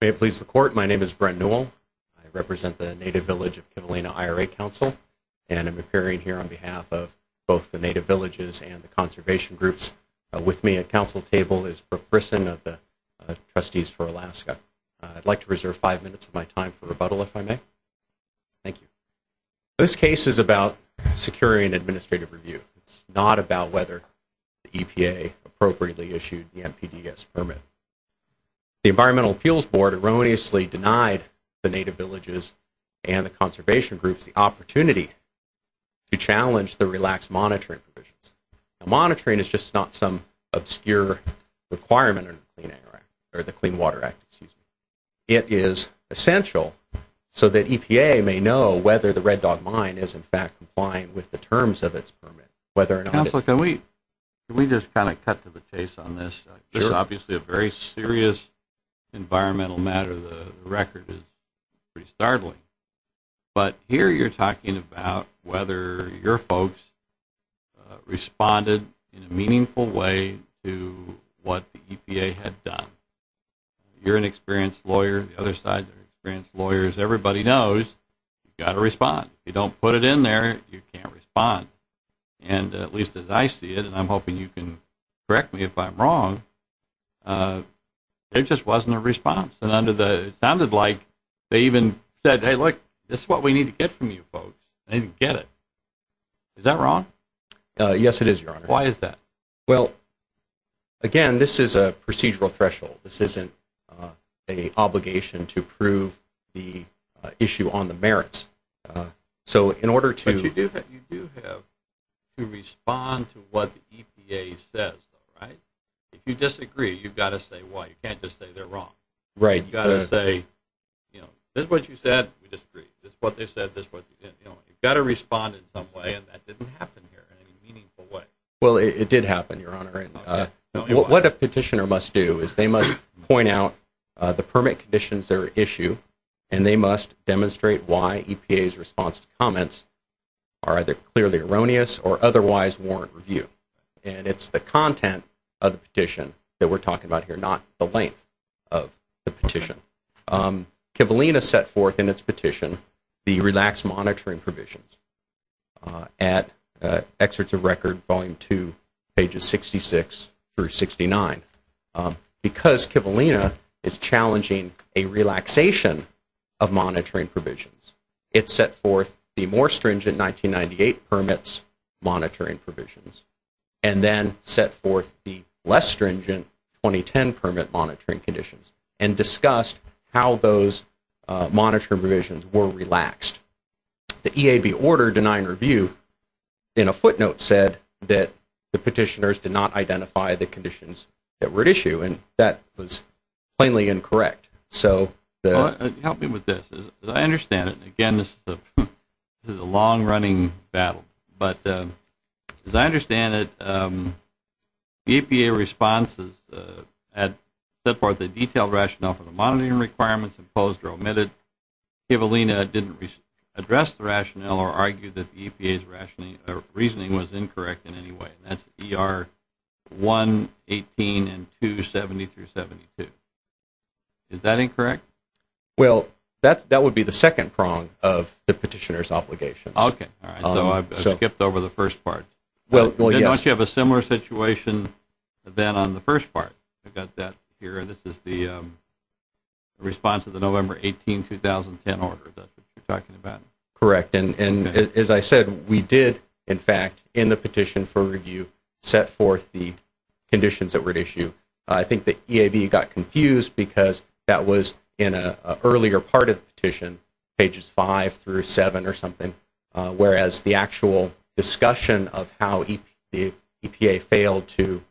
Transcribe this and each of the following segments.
May it please the Court, my name is Brent Newell. I represent the Native Village of Kivalina IRA Council, and I'm appearing here on behalf of both the Native Villages and the Conservation Groups. With me at council table is Brooke Brisson of the Trustees for Alaska. I'd like to reserve five minutes of my time for rebuttal, if I may. Thank you. This case is about securing administrative review. It's not about whether the EPA appropriately issued the NPDES permit. The Environmental Appeals Board erroneously denied the Native Villages and the Conservation Groups the opportunity to challenge the relaxed monitoring provisions. Monitoring is just not some obscure requirement of the Clean Water Act. It is essential so that EPA may know whether the Red Dog Mine is in fact compliant with the terms of its permit. Council, can we just kind of cut to the chase on this? This is obviously a very serious environmental matter. The record is pretty startling. But here you're talking about whether your folks responded in a meaningful way to what the EPA had done. You're an experienced lawyer. The other side are experienced lawyers. Everybody knows you've got to respond. If you don't put it in there, you can't respond. And at least as I see it, and I'm hoping you can correct me if I'm wrong, there just wasn't a response. It sounded like they even said, hey, look, this is what we need to get from you folks. They didn't get it. Is that wrong? Yes, it is, Your Honor. Why is that? Well, again, this is a procedural threshold. This isn't an obligation to prove the issue on the merits. But you do have to respond to what the EPA says, right? If you disagree, you've got to say why. You can't just say they're wrong. Right. You've got to say, this is what you said, we disagree. This is what they said, this is what they didn't. You've got to respond in some way, and that didn't happen here in any meaningful way. Well, it did happen, Your Honor. Okay. What a petitioner must do is they must point out the permit conditions that are at issue, and they must demonstrate why EPA's response to comments are either clearly erroneous or otherwise warrant review. And it's the content of the petition that we're talking about here, not the length of the petition. Kivalina set forth in its petition the relaxed monitoring provisions at Exerts of Record Volume 2, pages 66 through 69. Because Kivalina is challenging a relaxation of monitoring provisions, it set forth the more stringent 1998 permits monitoring provisions, and then set forth the less stringent 2010 permit monitoring conditions, and discussed how those monitoring provisions were relaxed. The EAB order denying review in a footnote said that the petitioners did not identify the conditions that were at issue, and that was plainly incorrect. Help me with this. As I understand it, and again, this is a long-running battle, but as I understand it, the EPA responses had set forth a detailed rationale for the monitoring requirements imposed or omitted. Kivalina didn't address the rationale or argue that the EPA's reasoning was incorrect in any way. And that's ER 118 and 270 through 72. Is that incorrect? Well, that would be the second prong of the petitioner's obligations. Okay. All right. So I skipped over the first part. Well, yes. Then don't you have a similar situation then on the first part? I've got that here. This is the response to the November 18, 2010 order that you're talking about. Correct. And as I said, we did, in fact, in the petition for review, set forth the conditions that were at issue. I think the EAB got confused because that was in an earlier part of the petition, pages 5 through 7 or something, whereas the actual discussion of how the EPA failed to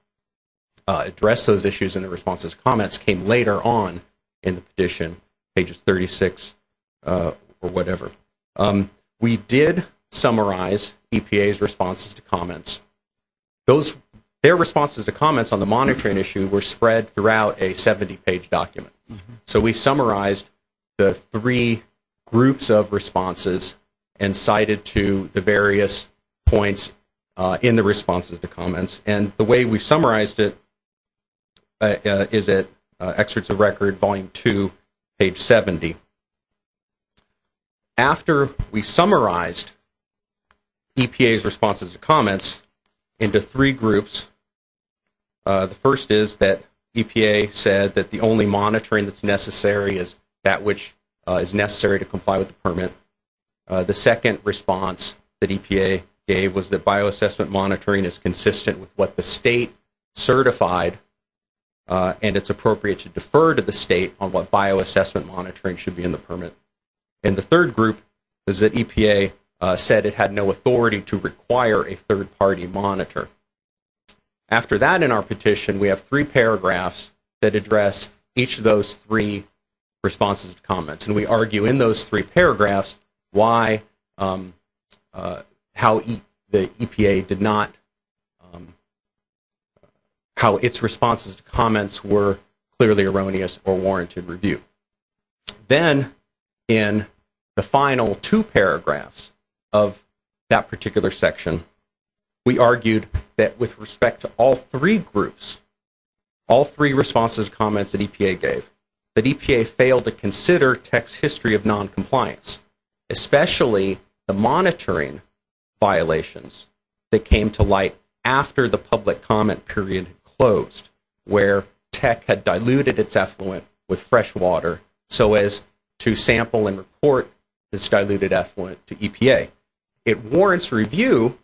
address those issues and the responses to comments came later on in the petition, pages 36 or whatever. We did summarize EPA's responses to comments. Their responses to comments on the monitoring issue were spread throughout a 70-page document. So we summarized the three groups of responses and cited to the various points in the responses to comments. And the way we summarized it is at Excerpts of Record, Volume 2, page 70. After we summarized EPA's responses to comments into three groups, the first is that EPA said that the only monitoring that's necessary is that which is necessary to comply with the permit. The second response that EPA gave was that bioassessment monitoring is consistent with what the state certified and it's appropriate to defer to the state on what bioassessment monitoring should be in the permit. And the third group is that EPA said it had no authority to require a third-party monitor. After that in our petition, we have three paragraphs that address each of those three responses to comments. And we argue in those three paragraphs how its responses to comments were clearly erroneous or warranted review. Then in the final two paragraphs of that particular section, we argued that with respect to all three groups, all three responses to comments that EPA gave, that EPA failed to consider tech's history of noncompliance, especially the monitoring violations that came to light after the public comment period closed where tech had diluted its effluent with fresh water so as to sample and report this diluted effluent to EPA. It warrants review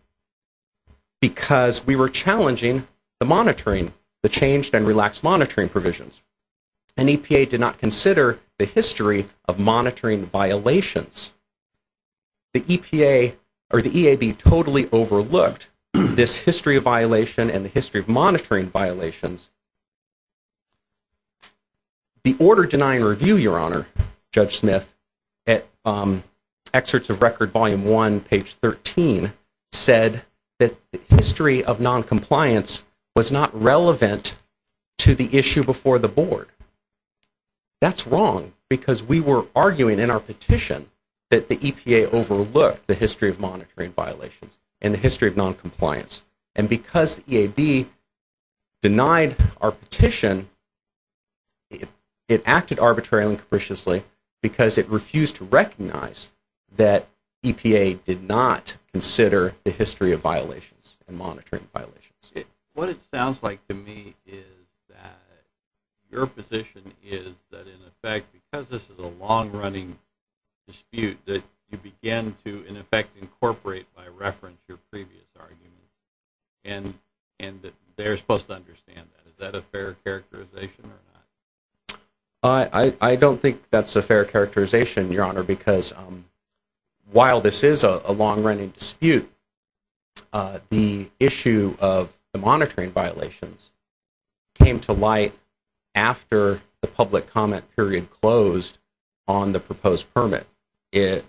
because we were challenging the monitoring, the changed and relaxed monitoring provisions. And EPA did not consider the history of monitoring violations. The EPA or the EAB totally overlooked this history of violation and the history of monitoring violations. The order denying review, Your Honor, Judge Smith, at excerpts of record volume one, page 13, said that the history of noncompliance was not relevant to the issue before the board. That's wrong because we were arguing in our petition that the EPA overlooked the history of monitoring violations and the history of noncompliance. And because the EAB denied our petition, it acted arbitrarily and capriciously because it refused to recognize that EPA did not consider the history of violations and monitoring violations. What it sounds like to me is that your position is that, in effect, because this is a long-running dispute, that you begin to, in effect, incorporate by reference your previous arguments. And they're supposed to understand that. Is that a fair characterization or not? I don't think that's a fair characterization, Your Honor, because while this is a long-running dispute, the issue of the monitoring violations came to light after the public comment period closed on the proposed permit.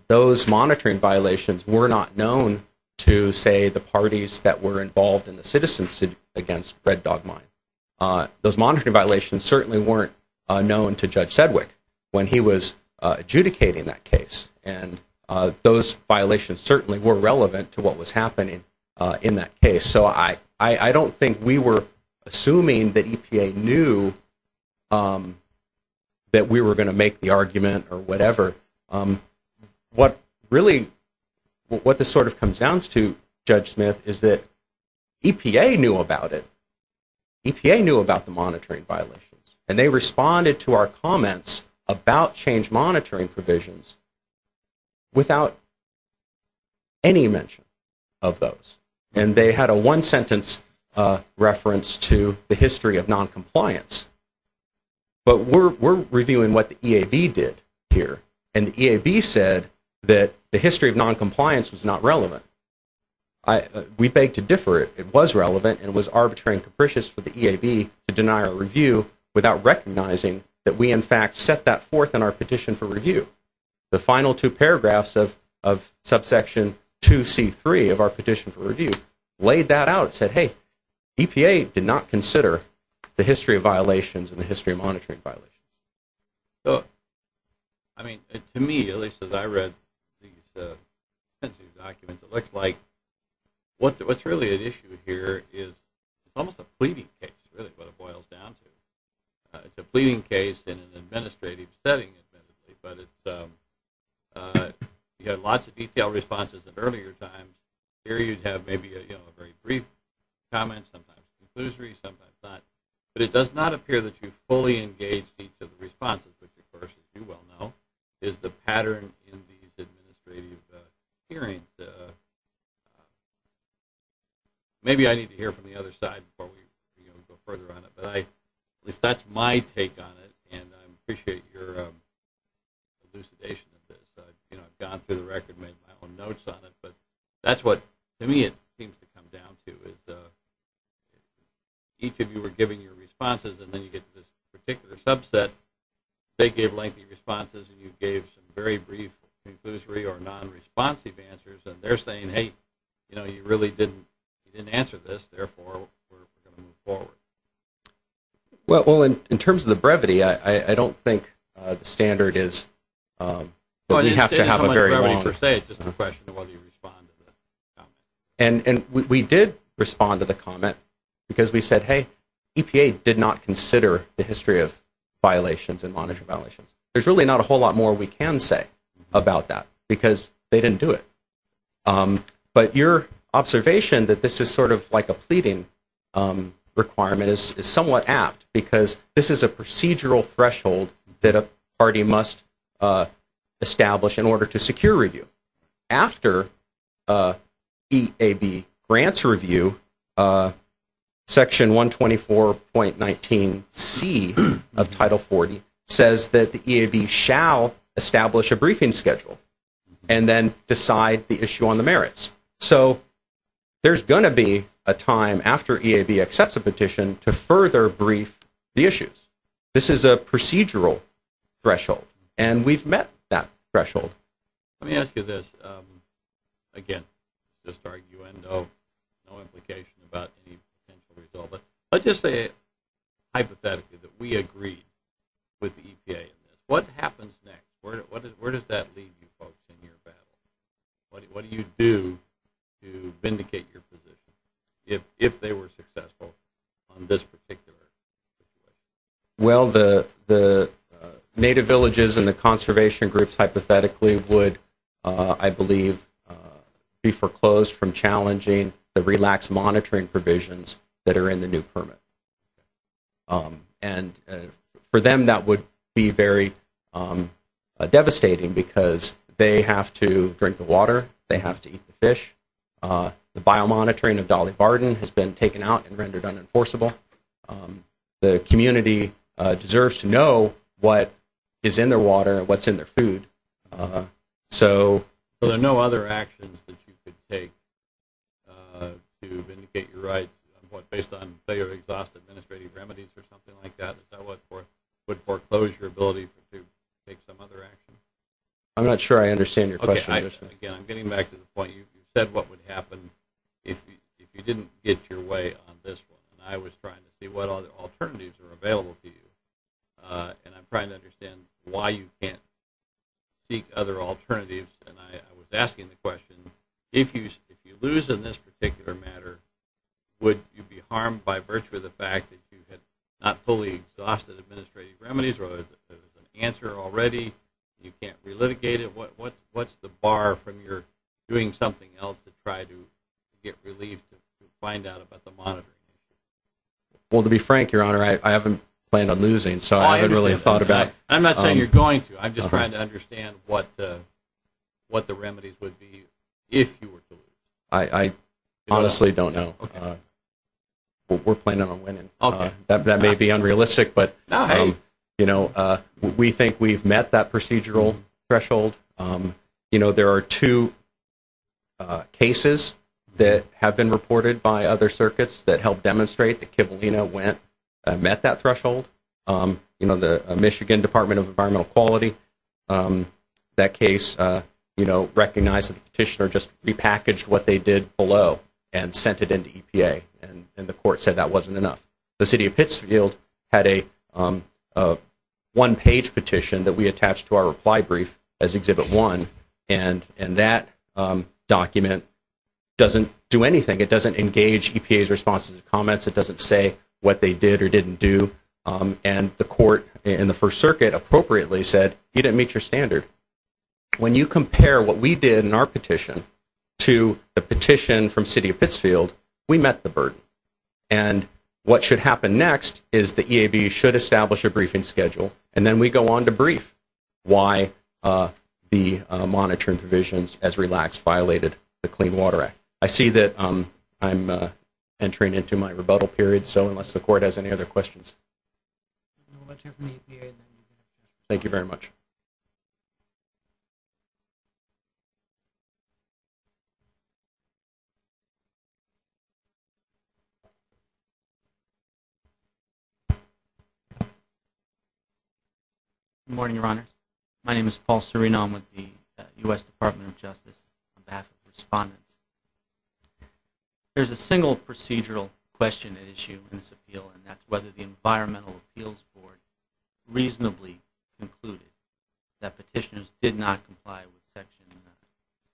Those monitoring violations were not known to, say, the parties that were involved in the citizens' suit against Red Dog Mine. Those monitoring violations certainly weren't known to Judge Sedwick when he was adjudicating that case. And those violations certainly were relevant to what was happening in that case. So I don't think we were assuming that EPA knew that we were going to make the argument or whatever. What this sort of comes down to, Judge Smith, is that EPA knew about it. EPA knew about the monitoring violations. And they responded to our comments about change monitoring provisions without any mention of those. And they had a one-sentence reference to the history of noncompliance. But we're reviewing what the EAB did here. And the EAB said that the history of noncompliance was not relevant. We beg to differ. It was relevant and was arbitrary and capricious for the EAB to deny our review without recognizing that we, in fact, set that forth in our petition for review. The final two paragraphs of subsection 2C3 of our petition for review laid that out and said, hey, EPA did not consider the history of violations and the history of monitoring violations. So, I mean, to me, at least as I read these documents, it looks like what's really at issue here is almost a pleading case, really, is what it boils down to. It's a pleading case in an administrative setting, essentially. But you had lots of detailed responses at earlier times. Here you'd have maybe a very brief comment, sometimes conclusory, sometimes not. But it does not appear that you fully engaged each of the responses, which, of course, as you well know, is the pattern in these administrative hearings. Maybe I need to hear from the other side before we go further on it. But at least that's my take on it, and I appreciate your elucidation of this. I've gone through the record and made my own notes on it. But that's what, to me, it seems to come down to, is each of you were giving your responses, and then you get to this particular subset. They gave lengthy responses, and you gave some very brief conclusory or non-responsive answers, and they're saying, hey, you know, you really didn't answer this, therefore we're going to move forward. Well, in terms of the brevity, I don't think the standard is what we have to have a very long. And we did respond to the comment because we said, hey, EPA did not consider the history of violations and monitoring violations. There's really not a whole lot more we can say about that because they didn't do it. But your observation that this is sort of like a pleading requirement is somewhat apt because this is a procedural threshold that a party must establish in order to secure review. After EAB grants review, Section 124.19c of Title 40 says that the EAB shall establish a briefing schedule and then decide the issue on the merits. So there's going to be a time after EAB accepts a petition to further brief the issues. This is a procedural threshold, and we've met that threshold. Let me ask you this. Again, just arguing no implication about the potential result, but let's just say hypothetically that we agree with the EPA. What happens next? Where does that leave you folks in your battle? What do you do to vindicate your position if they were successful on this particular issue? Well, the native villages and the conservation groups hypothetically would, I believe, be foreclosed from challenging the relaxed monitoring provisions that are in the new permit. And for them that would be very devastating because they have to drink the water. They have to eat the fish. The biomonitoring of Dolly Barton has been taken out and rendered unenforceable. The community deserves to know what is in their water and what's in their food. So there are no other actions that you could take to vindicate your rights based on failure to exhaust administrative remedies or something like that? Is that what would foreclose your ability to take some other actions? I'm not sure I understand your question. Again, I'm getting back to the point. You said what would happen if you didn't get your way on this one, and I was trying to see what alternatives are available to you, and I'm trying to understand why you can't seek other alternatives. And I was asking the question, if you lose in this particular matter, would you be harmed by virtue of the fact that you had not fully exhausted administrative remedies or there was an answer already and you can't relitigate it? What's the bar from your doing something else to try to get relief to find out about the monitoring? Well, to be frank, Your Honor, I haven't planned on losing. So I haven't really thought about it. I'm not saying you're going to. I'm just trying to understand what the remedies would be if you were to lose. I honestly don't know. We're planning on winning. That may be unrealistic, but we think we've met that procedural threshold. You know, there are two cases that have been reported by other circuits that help demonstrate that Kivalina met that threshold. You know, the Michigan Department of Environmental Quality, that case, recognized that the petitioner just repackaged what they did below and sent it into EPA, and the court said that wasn't enough. The City of Pittsfield had a one-page petition that we attached to our reply brief as Exhibit 1, and that document doesn't do anything. It doesn't engage EPA's responses and comments. It doesn't say what they did or didn't do. And the court in the First Circuit appropriately said, you didn't meet your standard. When you compare what we did in our petition to the petition from City of Pittsfield, we met the burden. And what should happen next is the EAB should establish a briefing schedule, and then we go on to brief why the monitoring provisions as relaxed violated the Clean Water Act. I see that I'm entering into my rebuttal period, so unless the court has any other questions. Thank you very much. My name is Paul Serino. I'm with the U.S. Department of Justice on behalf of the respondents. There's a single procedural question at issue in this appeal, and that's whether the Environmental Appeals Board reasonably concluded that petitioners did not comply with Section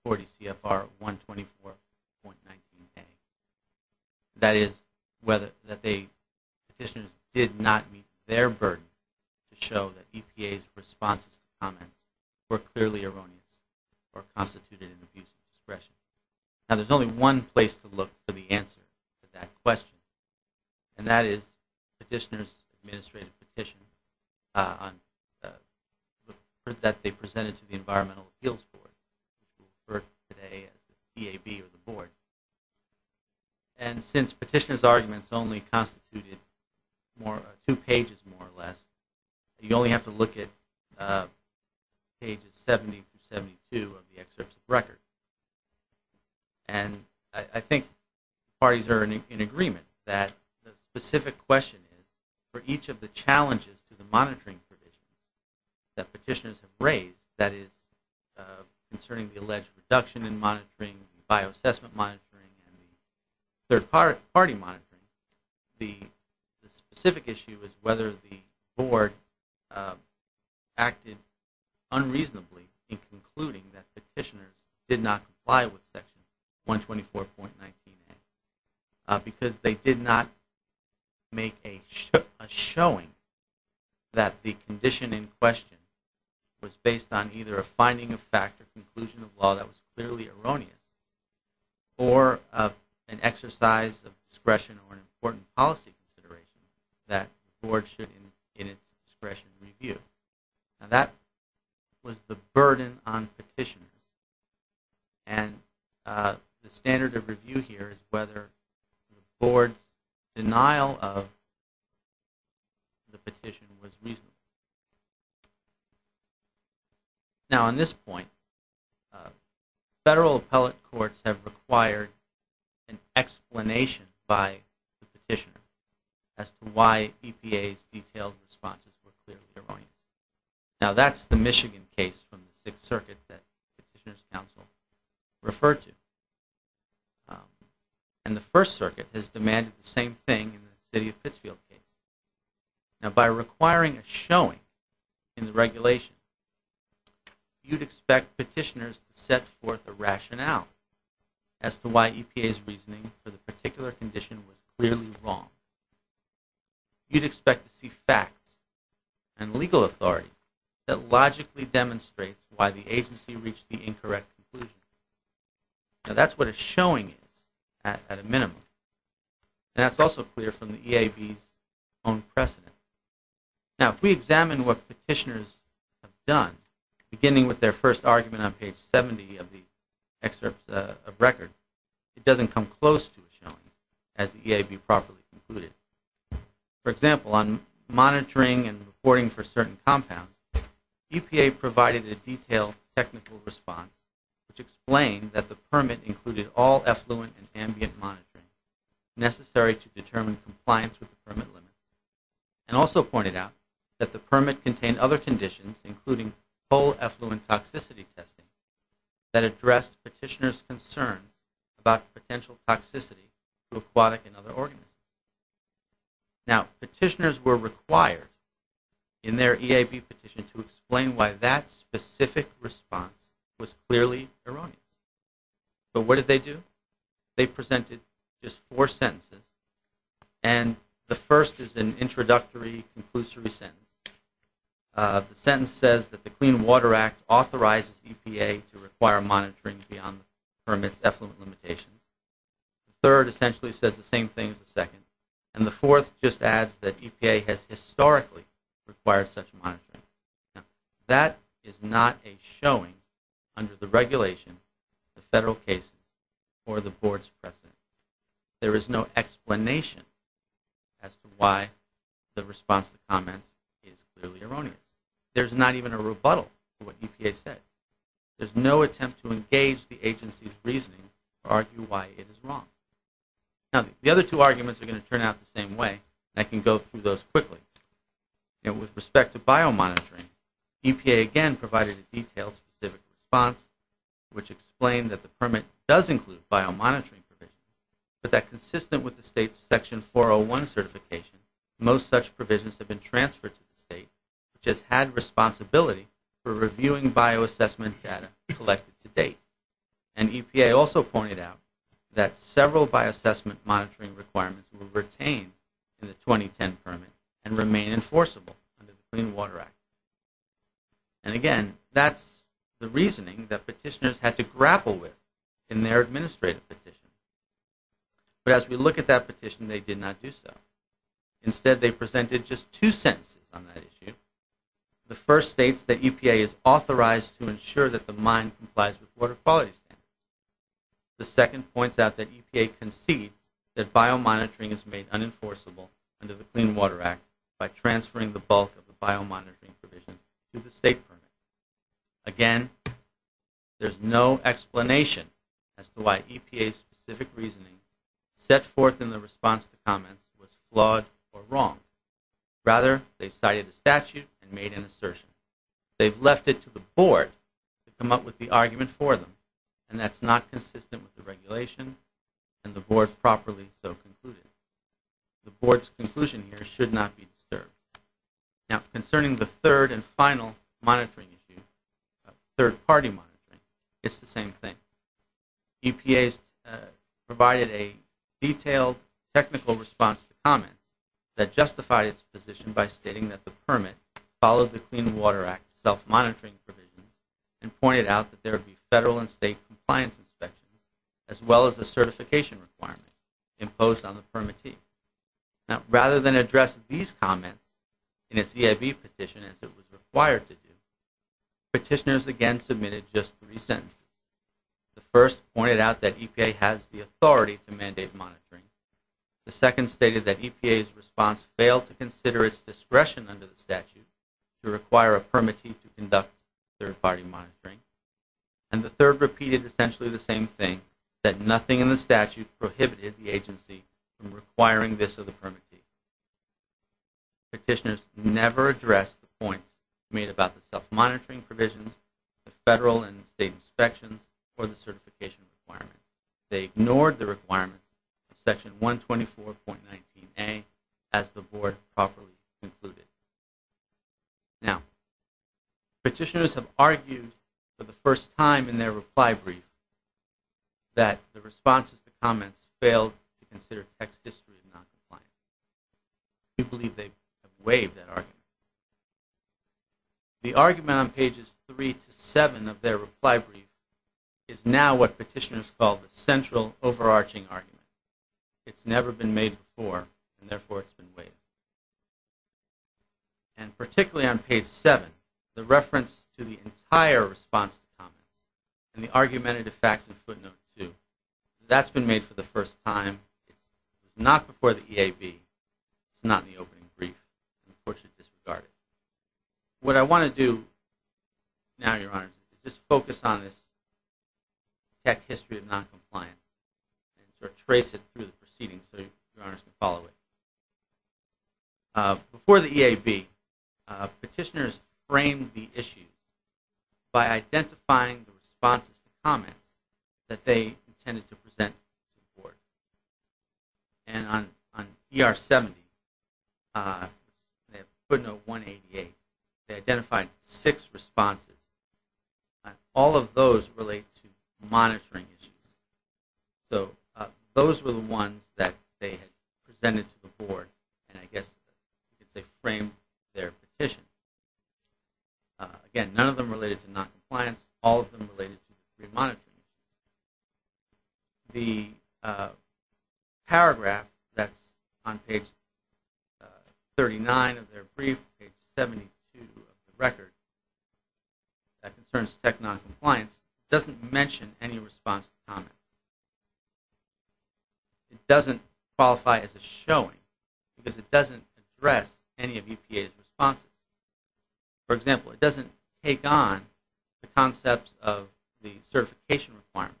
140 CFR 124.19K. That is, petitioners did not meet their burden to show that EPA's responses and comments were clearly erroneous or constituted an abuse of discretion. Now, there's only one place to look for the answer to that question, and that is petitioners' administrative petition that they presented to the Environmental Appeals Board, referred to today as the EAB or the board. And since petitioners' arguments only constituted two pages more or less, you only have to look at pages 70 through 72 of the excerpt of the record. And I think parties are in agreement that the specific question is, for each of the challenges to the monitoring provisions that petitioners have raised, that is concerning the alleged reduction in monitoring, bioassessment monitoring, and third-party monitoring, the specific issue is whether the board acted unreasonably in concluding that petitioners did not comply with Section 124.19K because they did not make a showing that the condition in question was based on either a finding of fact or conclusion of law that was clearly erroneous or an exercise of discretion or an important policy consideration that the board should, in its discretion, review. Now, that was the burden on petitioners. And the standard of review here is whether the board's denial of the petition was reasonable. Now, on this point, federal appellate courts have required an explanation by the petitioners as to why EPA's detailed responses were clearly erroneous. Now, that's the Michigan case from the Sixth Circuit that the Petitioner's Council referred to. And the First Circuit has demanded the same thing in the city of Pittsfield case. Now, by requiring a showing in the regulation, you'd expect petitioners to set forth a rationale as to why EPA's reasoning for the particular condition was clearly wrong. You'd expect to see facts and legal authority that logically demonstrates why the agency reached the incorrect conclusion. Now, that's what a showing is at a minimum. And that's also clear from the EAB's own precedent. Now, if we examine what petitioners have done, beginning with their first argument on page 70 of the excerpt of record, it doesn't come close to a showing, as the EAB properly concluded. For example, on monitoring and reporting for certain compounds, EPA provided a detailed technical response which explained that the permit included all effluent and ambient monitoring necessary to determine compliance with the permit limit. And also pointed out that the permit contained other conditions, including whole effluent toxicity testing, that addressed petitioners' concern about potential toxicity to aquatic and other organisms. Now, petitioners were required in their EAB petition to explain why that specific response was clearly erroneous. But what did they do? They presented just four sentences, and the first is an introductory, conclusory sentence. The sentence says that the Clean Water Act authorizes EPA to require monitoring beyond the permit's effluent limitations. The third essentially says the same thing as the second. And the fourth just adds that EPA has historically required such monitoring. Now, that is not a showing under the regulation, the federal case, or the board's precedent. There is no explanation as to why the response to comments is clearly erroneous. There's not even a rebuttal to what EPA said. There's no attempt to engage the agency's reasoning or argue why it is wrong. Now, the other two arguments are going to turn out the same way, and I can go through those quickly. With respect to biomonitoring, EPA again provided a detailed specific response which explained that the permit does include biomonitoring provisions, but that consistent with the state's Section 401 certification, most such provisions have been transferred to the state, which has had responsibility for reviewing bioassessment data collected to date. And EPA also pointed out that several bioassessment monitoring requirements were retained in the 2010 permit and remain enforceable under the Clean Water Act. And again, that's the reasoning that petitioners had to grapple with in their administrative petitions. But as we look at that petition, they did not do so. Instead, they presented just two sentences on that issue. The first states that EPA is authorized to ensure that the mine complies with water quality standards. The second points out that EPA concedes that biomonitoring is made unenforceable under the Clean Water Act by transferring the bulk of the biomonitoring provisions to the state permit. Again, there's no explanation as to why EPA's specific reasoning set forth in the response to comments was flawed or wrong. Rather, they cited a statute and made an assertion. They've left it to the Board to come up with the argument for them, and that's not consistent with the regulation and the Board properly so concluded. The Board's conclusion here should not be disturbed. Now, concerning the third and final monitoring issue, third-party monitoring, it's the same thing. EPA provided a detailed technical response to comments that justified its position by stating that the permit followed the Clean Water Act self-monitoring provisions and pointed out that there would be federal and state compliance inspections as well as a certification requirement imposed on the permittee. Now, rather than address these comments in its EIB petition as it was required to do, petitioners again submitted just three sentences. The first pointed out that EPA has the authority to mandate monitoring. The second stated that EPA's response failed to consider its discretion under the statute to require a permittee to conduct third-party monitoring. And the third repeated essentially the same thing, that nothing in the statute prohibited the agency from requiring this of the permittee. Petitioners never addressed the point made about the self-monitoring provisions, the federal and state inspections, or the certification requirements. They ignored the requirements of Section 124.19a as the Board properly concluded. Now, petitioners have argued for the first time in their reply brief that the responses to comments failed to consider text history as noncompliant. We believe they have waived that argument. The argument on pages three to seven of their reply brief is now what petitioners call the central overarching argument. It's never been made before, and therefore it's been waived. And particularly on page seven, the reference to the entire response to comments and the argumentative facts and footnotes too, that's been made for the first time. It's not before the EIB. It's not in the opening brief. Unfortunately, it's disregarded. What I want to do now, Your Honor, is just focus on this text history of noncompliance and sort of trace it through the proceedings so Your Honors can follow it. Before the EIB, petitioners framed the issues by identifying the responses to comments that they intended to present to the Board. And on ER 70, footnote 188, they identified six responses. All of those relate to monitoring issues. So those were the ones that they had presented to the Board, and I guess they framed their petition. Again, none of them related to noncompliance. All of them related to screen monitoring. The paragraph that's on page 39 of their brief, page 72 of the record, that concerns tech noncompliance, doesn't mention any response to comments. It doesn't qualify as a showing because it doesn't address any of EPA's responses. For example, it doesn't take on the concepts of the certification requirements,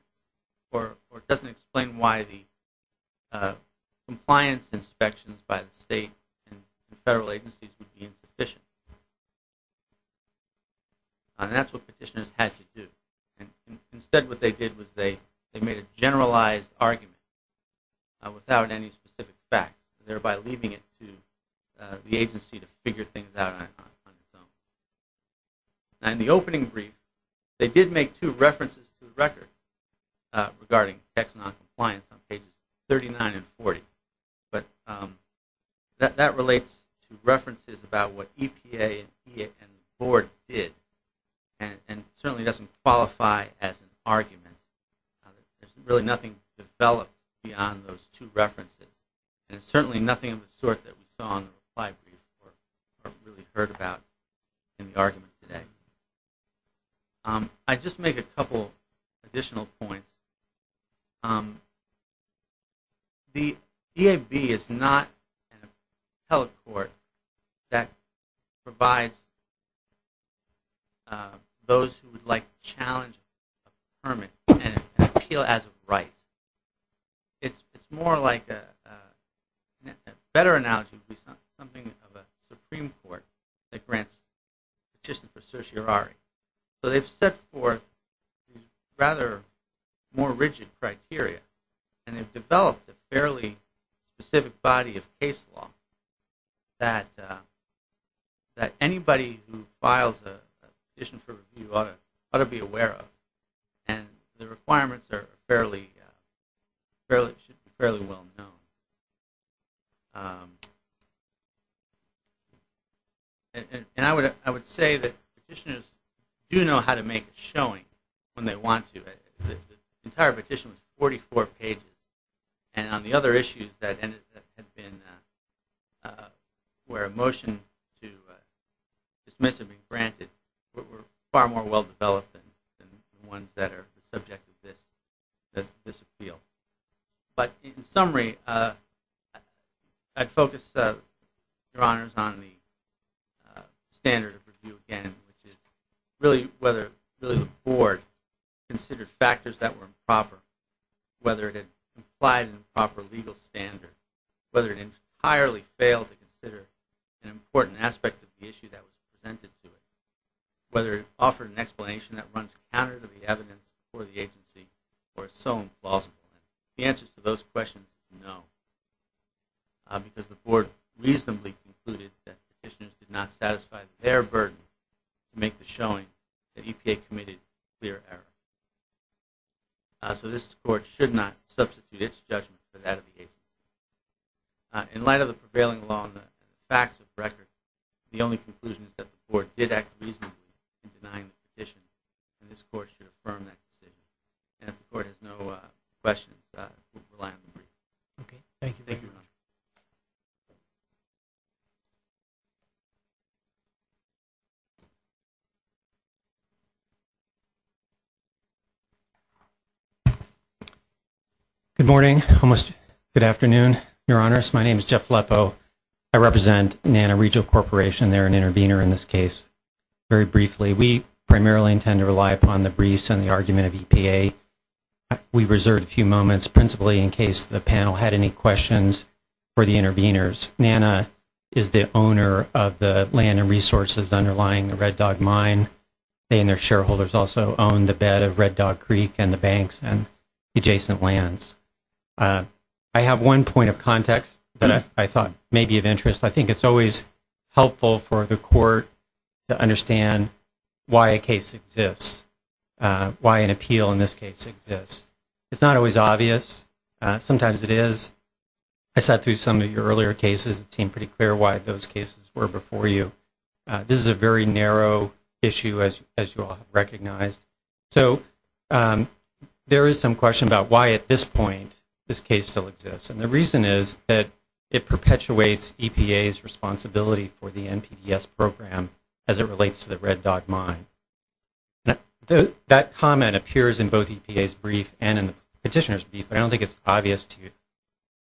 or it doesn't explain why the compliance inspections by the state and the federal agencies would be insufficient. That's what petitioners had to do. Instead, what they did was they made a generalized argument without any specific facts, thereby leaving it to the agency to figure things out on its own. In the opening brief, they did make two references to the record regarding tech noncompliance on pages 39 and 40. But that relates to references about what EPA and the Board did, and certainly doesn't qualify as an argument. There's really nothing developed beyond those two references. And there's certainly nothing of the sort that we saw in the reply brief or really heard about in the argument today. I'd just make a couple additional points. The EAB is not an appellate court that provides those who would like to challenge a permit an appeal as of rights. It's more like a better analogy would be something of a Supreme Court that grants a petition for certiorari. So they've set forth rather more rigid criteria, and they've developed a fairly specific body of case law that anybody who files a petition for review ought to be aware of. And the requirements are fairly well known. And I would say that petitioners do know how to make a showing when they want to. The entire petition was 44 pages. And on the other issues that had been where a motion to dismiss had been granted were far more well-developed than the ones that are the subject of this appeal. But in summary, I'd focus your honors on the standard of review again, which is really whether the Board considered factors that were improper, whether it had complied in a proper legal standard, whether it entirely failed to consider an important aspect of the issue that was presented to it, whether it offered an explanation that runs counter to the evidence for the agency or is so implausible. The answer to those questions, no, because the Board reasonably concluded that petitioners did not satisfy their burden to make the showing that EPA committed a clear error. So this Court should not substitute its judgment for that of the agency. In light of the prevailing law and the facts of the record, the only conclusion is that the Board did act reasonably in denying the petition, and this Court should affirm that decision. And if the Court has no questions, we'll rely on the brief. Okay. Thank you. Thank you. Good morning, almost good afternoon, your honors. My name is Jeff Leppo. I represent NANA Regional Corporation. They're an intervener in this case. Very briefly, we primarily intend to rely upon the briefs and the argument of EPA. We reserved a few moments principally in case the panel had any questions for the interveners. NANA is the owner of the land and resources underlying the Red Dog Mine. They and their shareholders also own the bed of Red Dog Creek and the banks and adjacent lands. I have one point of context that I thought may be of interest. I think it's always helpful for the Court to understand why a case exists, why an appeal in this case exists. It's not always obvious. Sometimes it is. I sat through some of your earlier cases. It seemed pretty clear why those cases were before you. This is a very narrow issue, as you all have recognized. So there is some question about why at this point this case still exists. And the reason is that it perpetuates EPA's responsibility for the NPDES program as it relates to the Red Dog Mine. That comment appears in both EPA's brief and in the petitioner's brief, but I don't think it's obvious to you.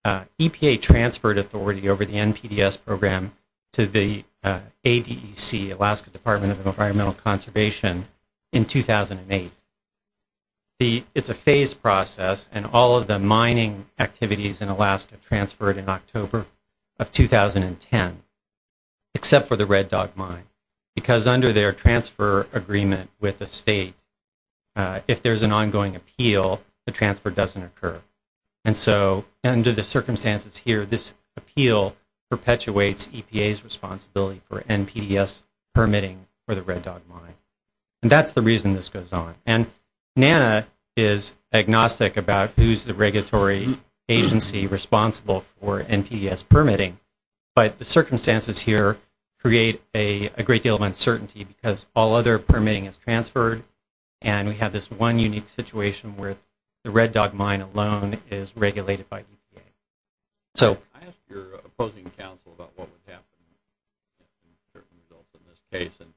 EPA transferred authority over the NPDES program to the ADEC, Alaska Department of Environmental Conservation, in 2008. It's a phased process, and all of the mining activities in Alaska transferred in October of 2010, except for the Red Dog Mine, because under their transfer agreement with the state, if there's an ongoing appeal, the transfer doesn't occur. And so under the circumstances here, this appeal perpetuates EPA's responsibility for NPDES permitting for the Red Dog Mine. And that's the reason this goes on. And NANA is agnostic about who's the regulatory agency responsible for NPDES permitting, but the circumstances here create a great deal of uncertainty because all other permitting is transferred, and we have this one unique situation where the Red Dog Mine alone is regulated by EPA. So... I asked your opposing counsel about what would happen to certain results in this case, and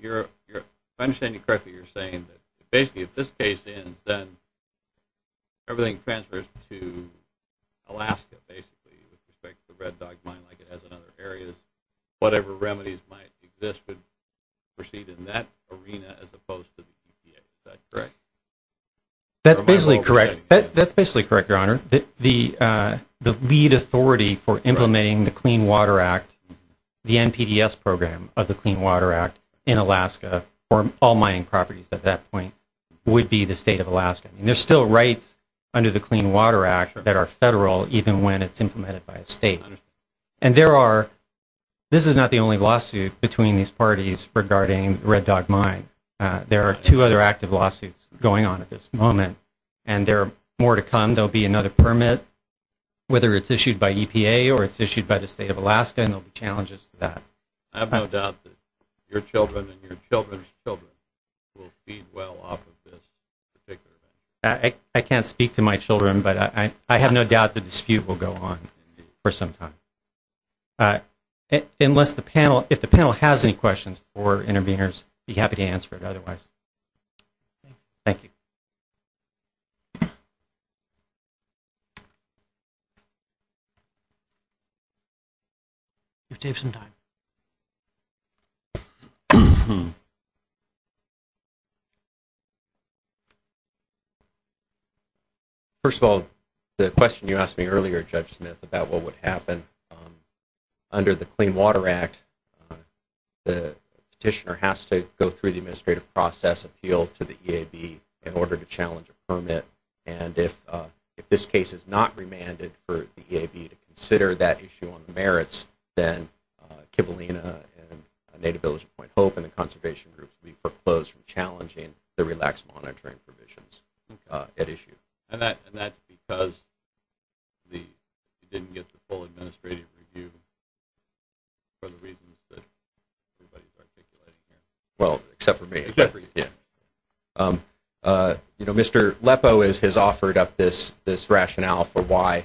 if I understand you correctly, you're saying that basically if this case ends, then everything transfers to Alaska, basically, which affects the Red Dog Mine like it has in other areas. Whatever remedies might exist would proceed in that arena as opposed to the EPA. Is that correct? That's basically correct. That's basically correct, Your Honor. The lead authority for implementing the Clean Water Act, the NPDES program of the Clean Water Act in Alaska, for all mining properties at that point, would be the state of Alaska. And there's still rights under the Clean Water Act that are federal even when it's implemented by a state. And there are – this is not the only lawsuit between these parties regarding the Red Dog Mine. There are two other active lawsuits going on at this moment, and there are more to come. There will be another permit, whether it's issued by EPA or it's issued by the state of Alaska, and there will be challenges to that. I have no doubt that your children and your children's children will feed well off of this. I can't speak to my children, but I have no doubt the dispute will go on for some time. Unless the panel – if the panel has any questions for interveners, I'd be happy to answer it otherwise. Thank you. You've taken some time. First of all, the question you asked me earlier, Judge Smith, about what would happen under the Clean Water Act, the petitioner has to go through the administrative process, appeal to the EAB, in order to challenge a permit. And if this case is not remanded for the EAB to consider that issue on the merits, then Kivalina and Native Village of Point Hope and the conservation group will be foreclosed from challenging the relaxed monitoring provisions at issue. And that's because you didn't get the full administrative review for the reasons that everybody's articulating? Well, except for me. You know, Mr. Lepow has offered up this rationale for why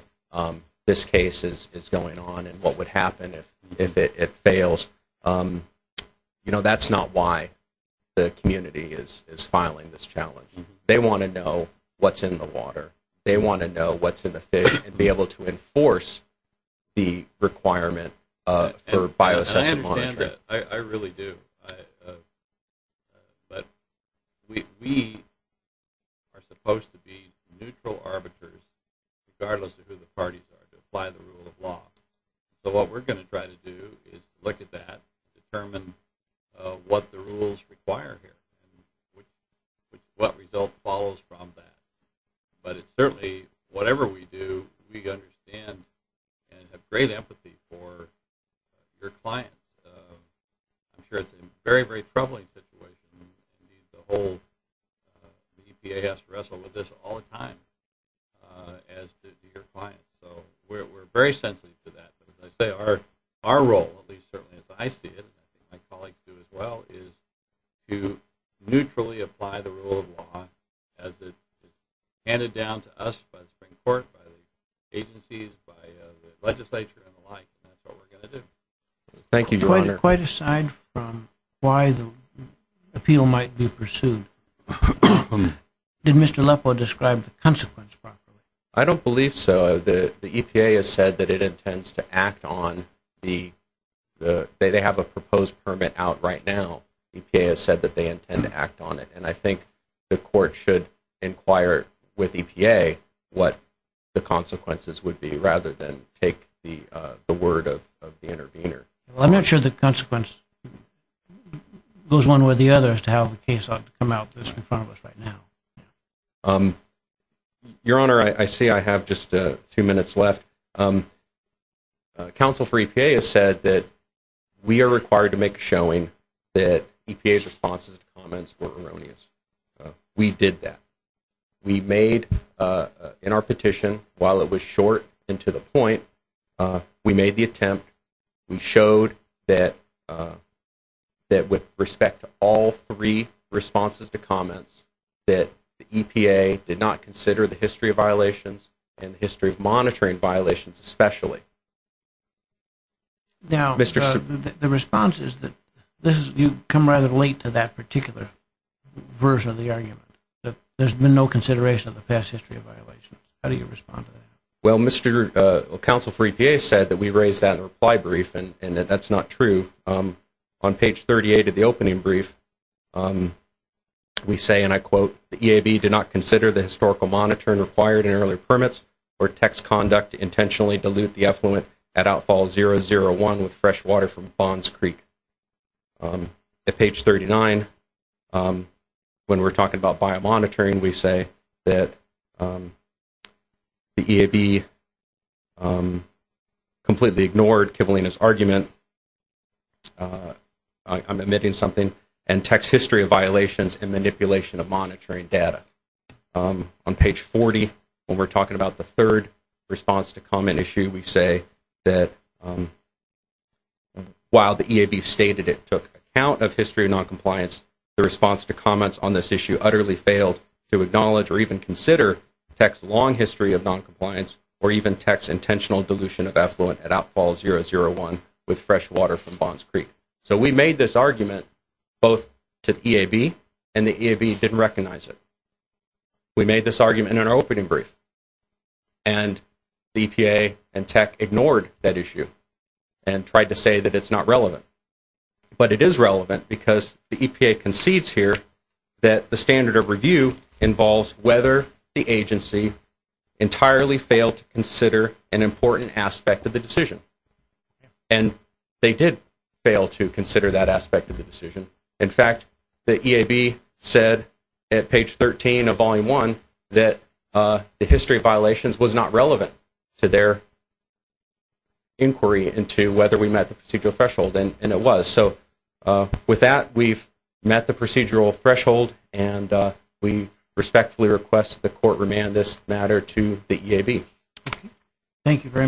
this case is going on and what would happen if it fails. You know, that's not why the community is filing this challenge. They want to know what's in the water. They want to know what's in the fish and be able to enforce the requirement for bioassessive monitoring. I really do. But we are supposed to be neutral arbiters, regardless of who the parties are, to apply the rule of law. So what we're going to try to do is look at that, determine what the rules require here, and what result follows from that. But it's certainly, whatever we do, we understand and have great empathy for your clients. I'm sure it's a very, very troubling situation. The whole EPA has to wrestle with this all the time as to your clients. So we're very sensitive to that. But as I say, our role, at least certainly as I see it, and my colleagues do as well, is to neutrally apply the rule of law as it's handed down to us by the Supreme Court, by the agencies, by the legislature and the like, and that's what we're going to do. Thank you, Your Honor. Quite aside from why the appeal might be pursued, did Mr. Leppo describe the consequence properly? I don't believe so. The EPA has said that it intends to act on the—they have a proposed permit out right now. EPA has said that they intend to act on it. And I think the court should inquire with EPA what the consequences would be, rather than take the word of the intervener. I'm not sure the consequence goes one way or the other as to how the case ought to come out that's in front of us right now. Your Honor, I see I have just two minutes left. Counsel for EPA has said that we are required to make a showing that EPA's responses to comments were erroneous. We did that. We made, in our petition, while it was short and to the point, we made the attempt. We showed that with respect to all three responses to comments, that the EPA did not consider the history of violations and the history of monitoring violations especially. Now, the response is that you've come rather late to that particular version of the argument, that there's been no consideration of the past history of violations. How do you respond to that? Well, Counsel for EPA said that we raised that in a reply brief and that that's not true. On page 38 of the opening brief, we say, and I quote, the EAB did not consider the historical monitoring required in earlier permits or text conduct to intentionally dilute the effluent at outfall 001 with fresh water from Bonds Creek. At page 39, when we're talking about biomonitoring, we say that the EAB completely ignored Kivalina's argument. I'm omitting something. And text history of violations and manipulation of monitoring data. On page 40, when we're talking about the third response to comment issue, we say that while the EAB stated it took account of history of noncompliance, the response to comments on this issue utterly failed to acknowledge or even consider text long history of noncompliance or even text intentional dilution of effluent at outfall 001 with fresh water from Bonds Creek. So we made this argument both to the EAB and the EAB didn't recognize it. We made this argument in our opening brief. And the EPA and tech ignored that issue and tried to say that it's not relevant. But it is relevant because the EPA concedes here that the standard of review involves whether the agency entirely failed to consider an important aspect of the decision. And they did fail to consider that aspect of the decision. In fact, the EAB said at page 13 of volume 1 that the history of violations was not relevant to their inquiry into whether we met the procedural threshold and it was. So with that, we've met the procedural threshold and we respectfully request the court remand this matter to the EAB. Thank you very much.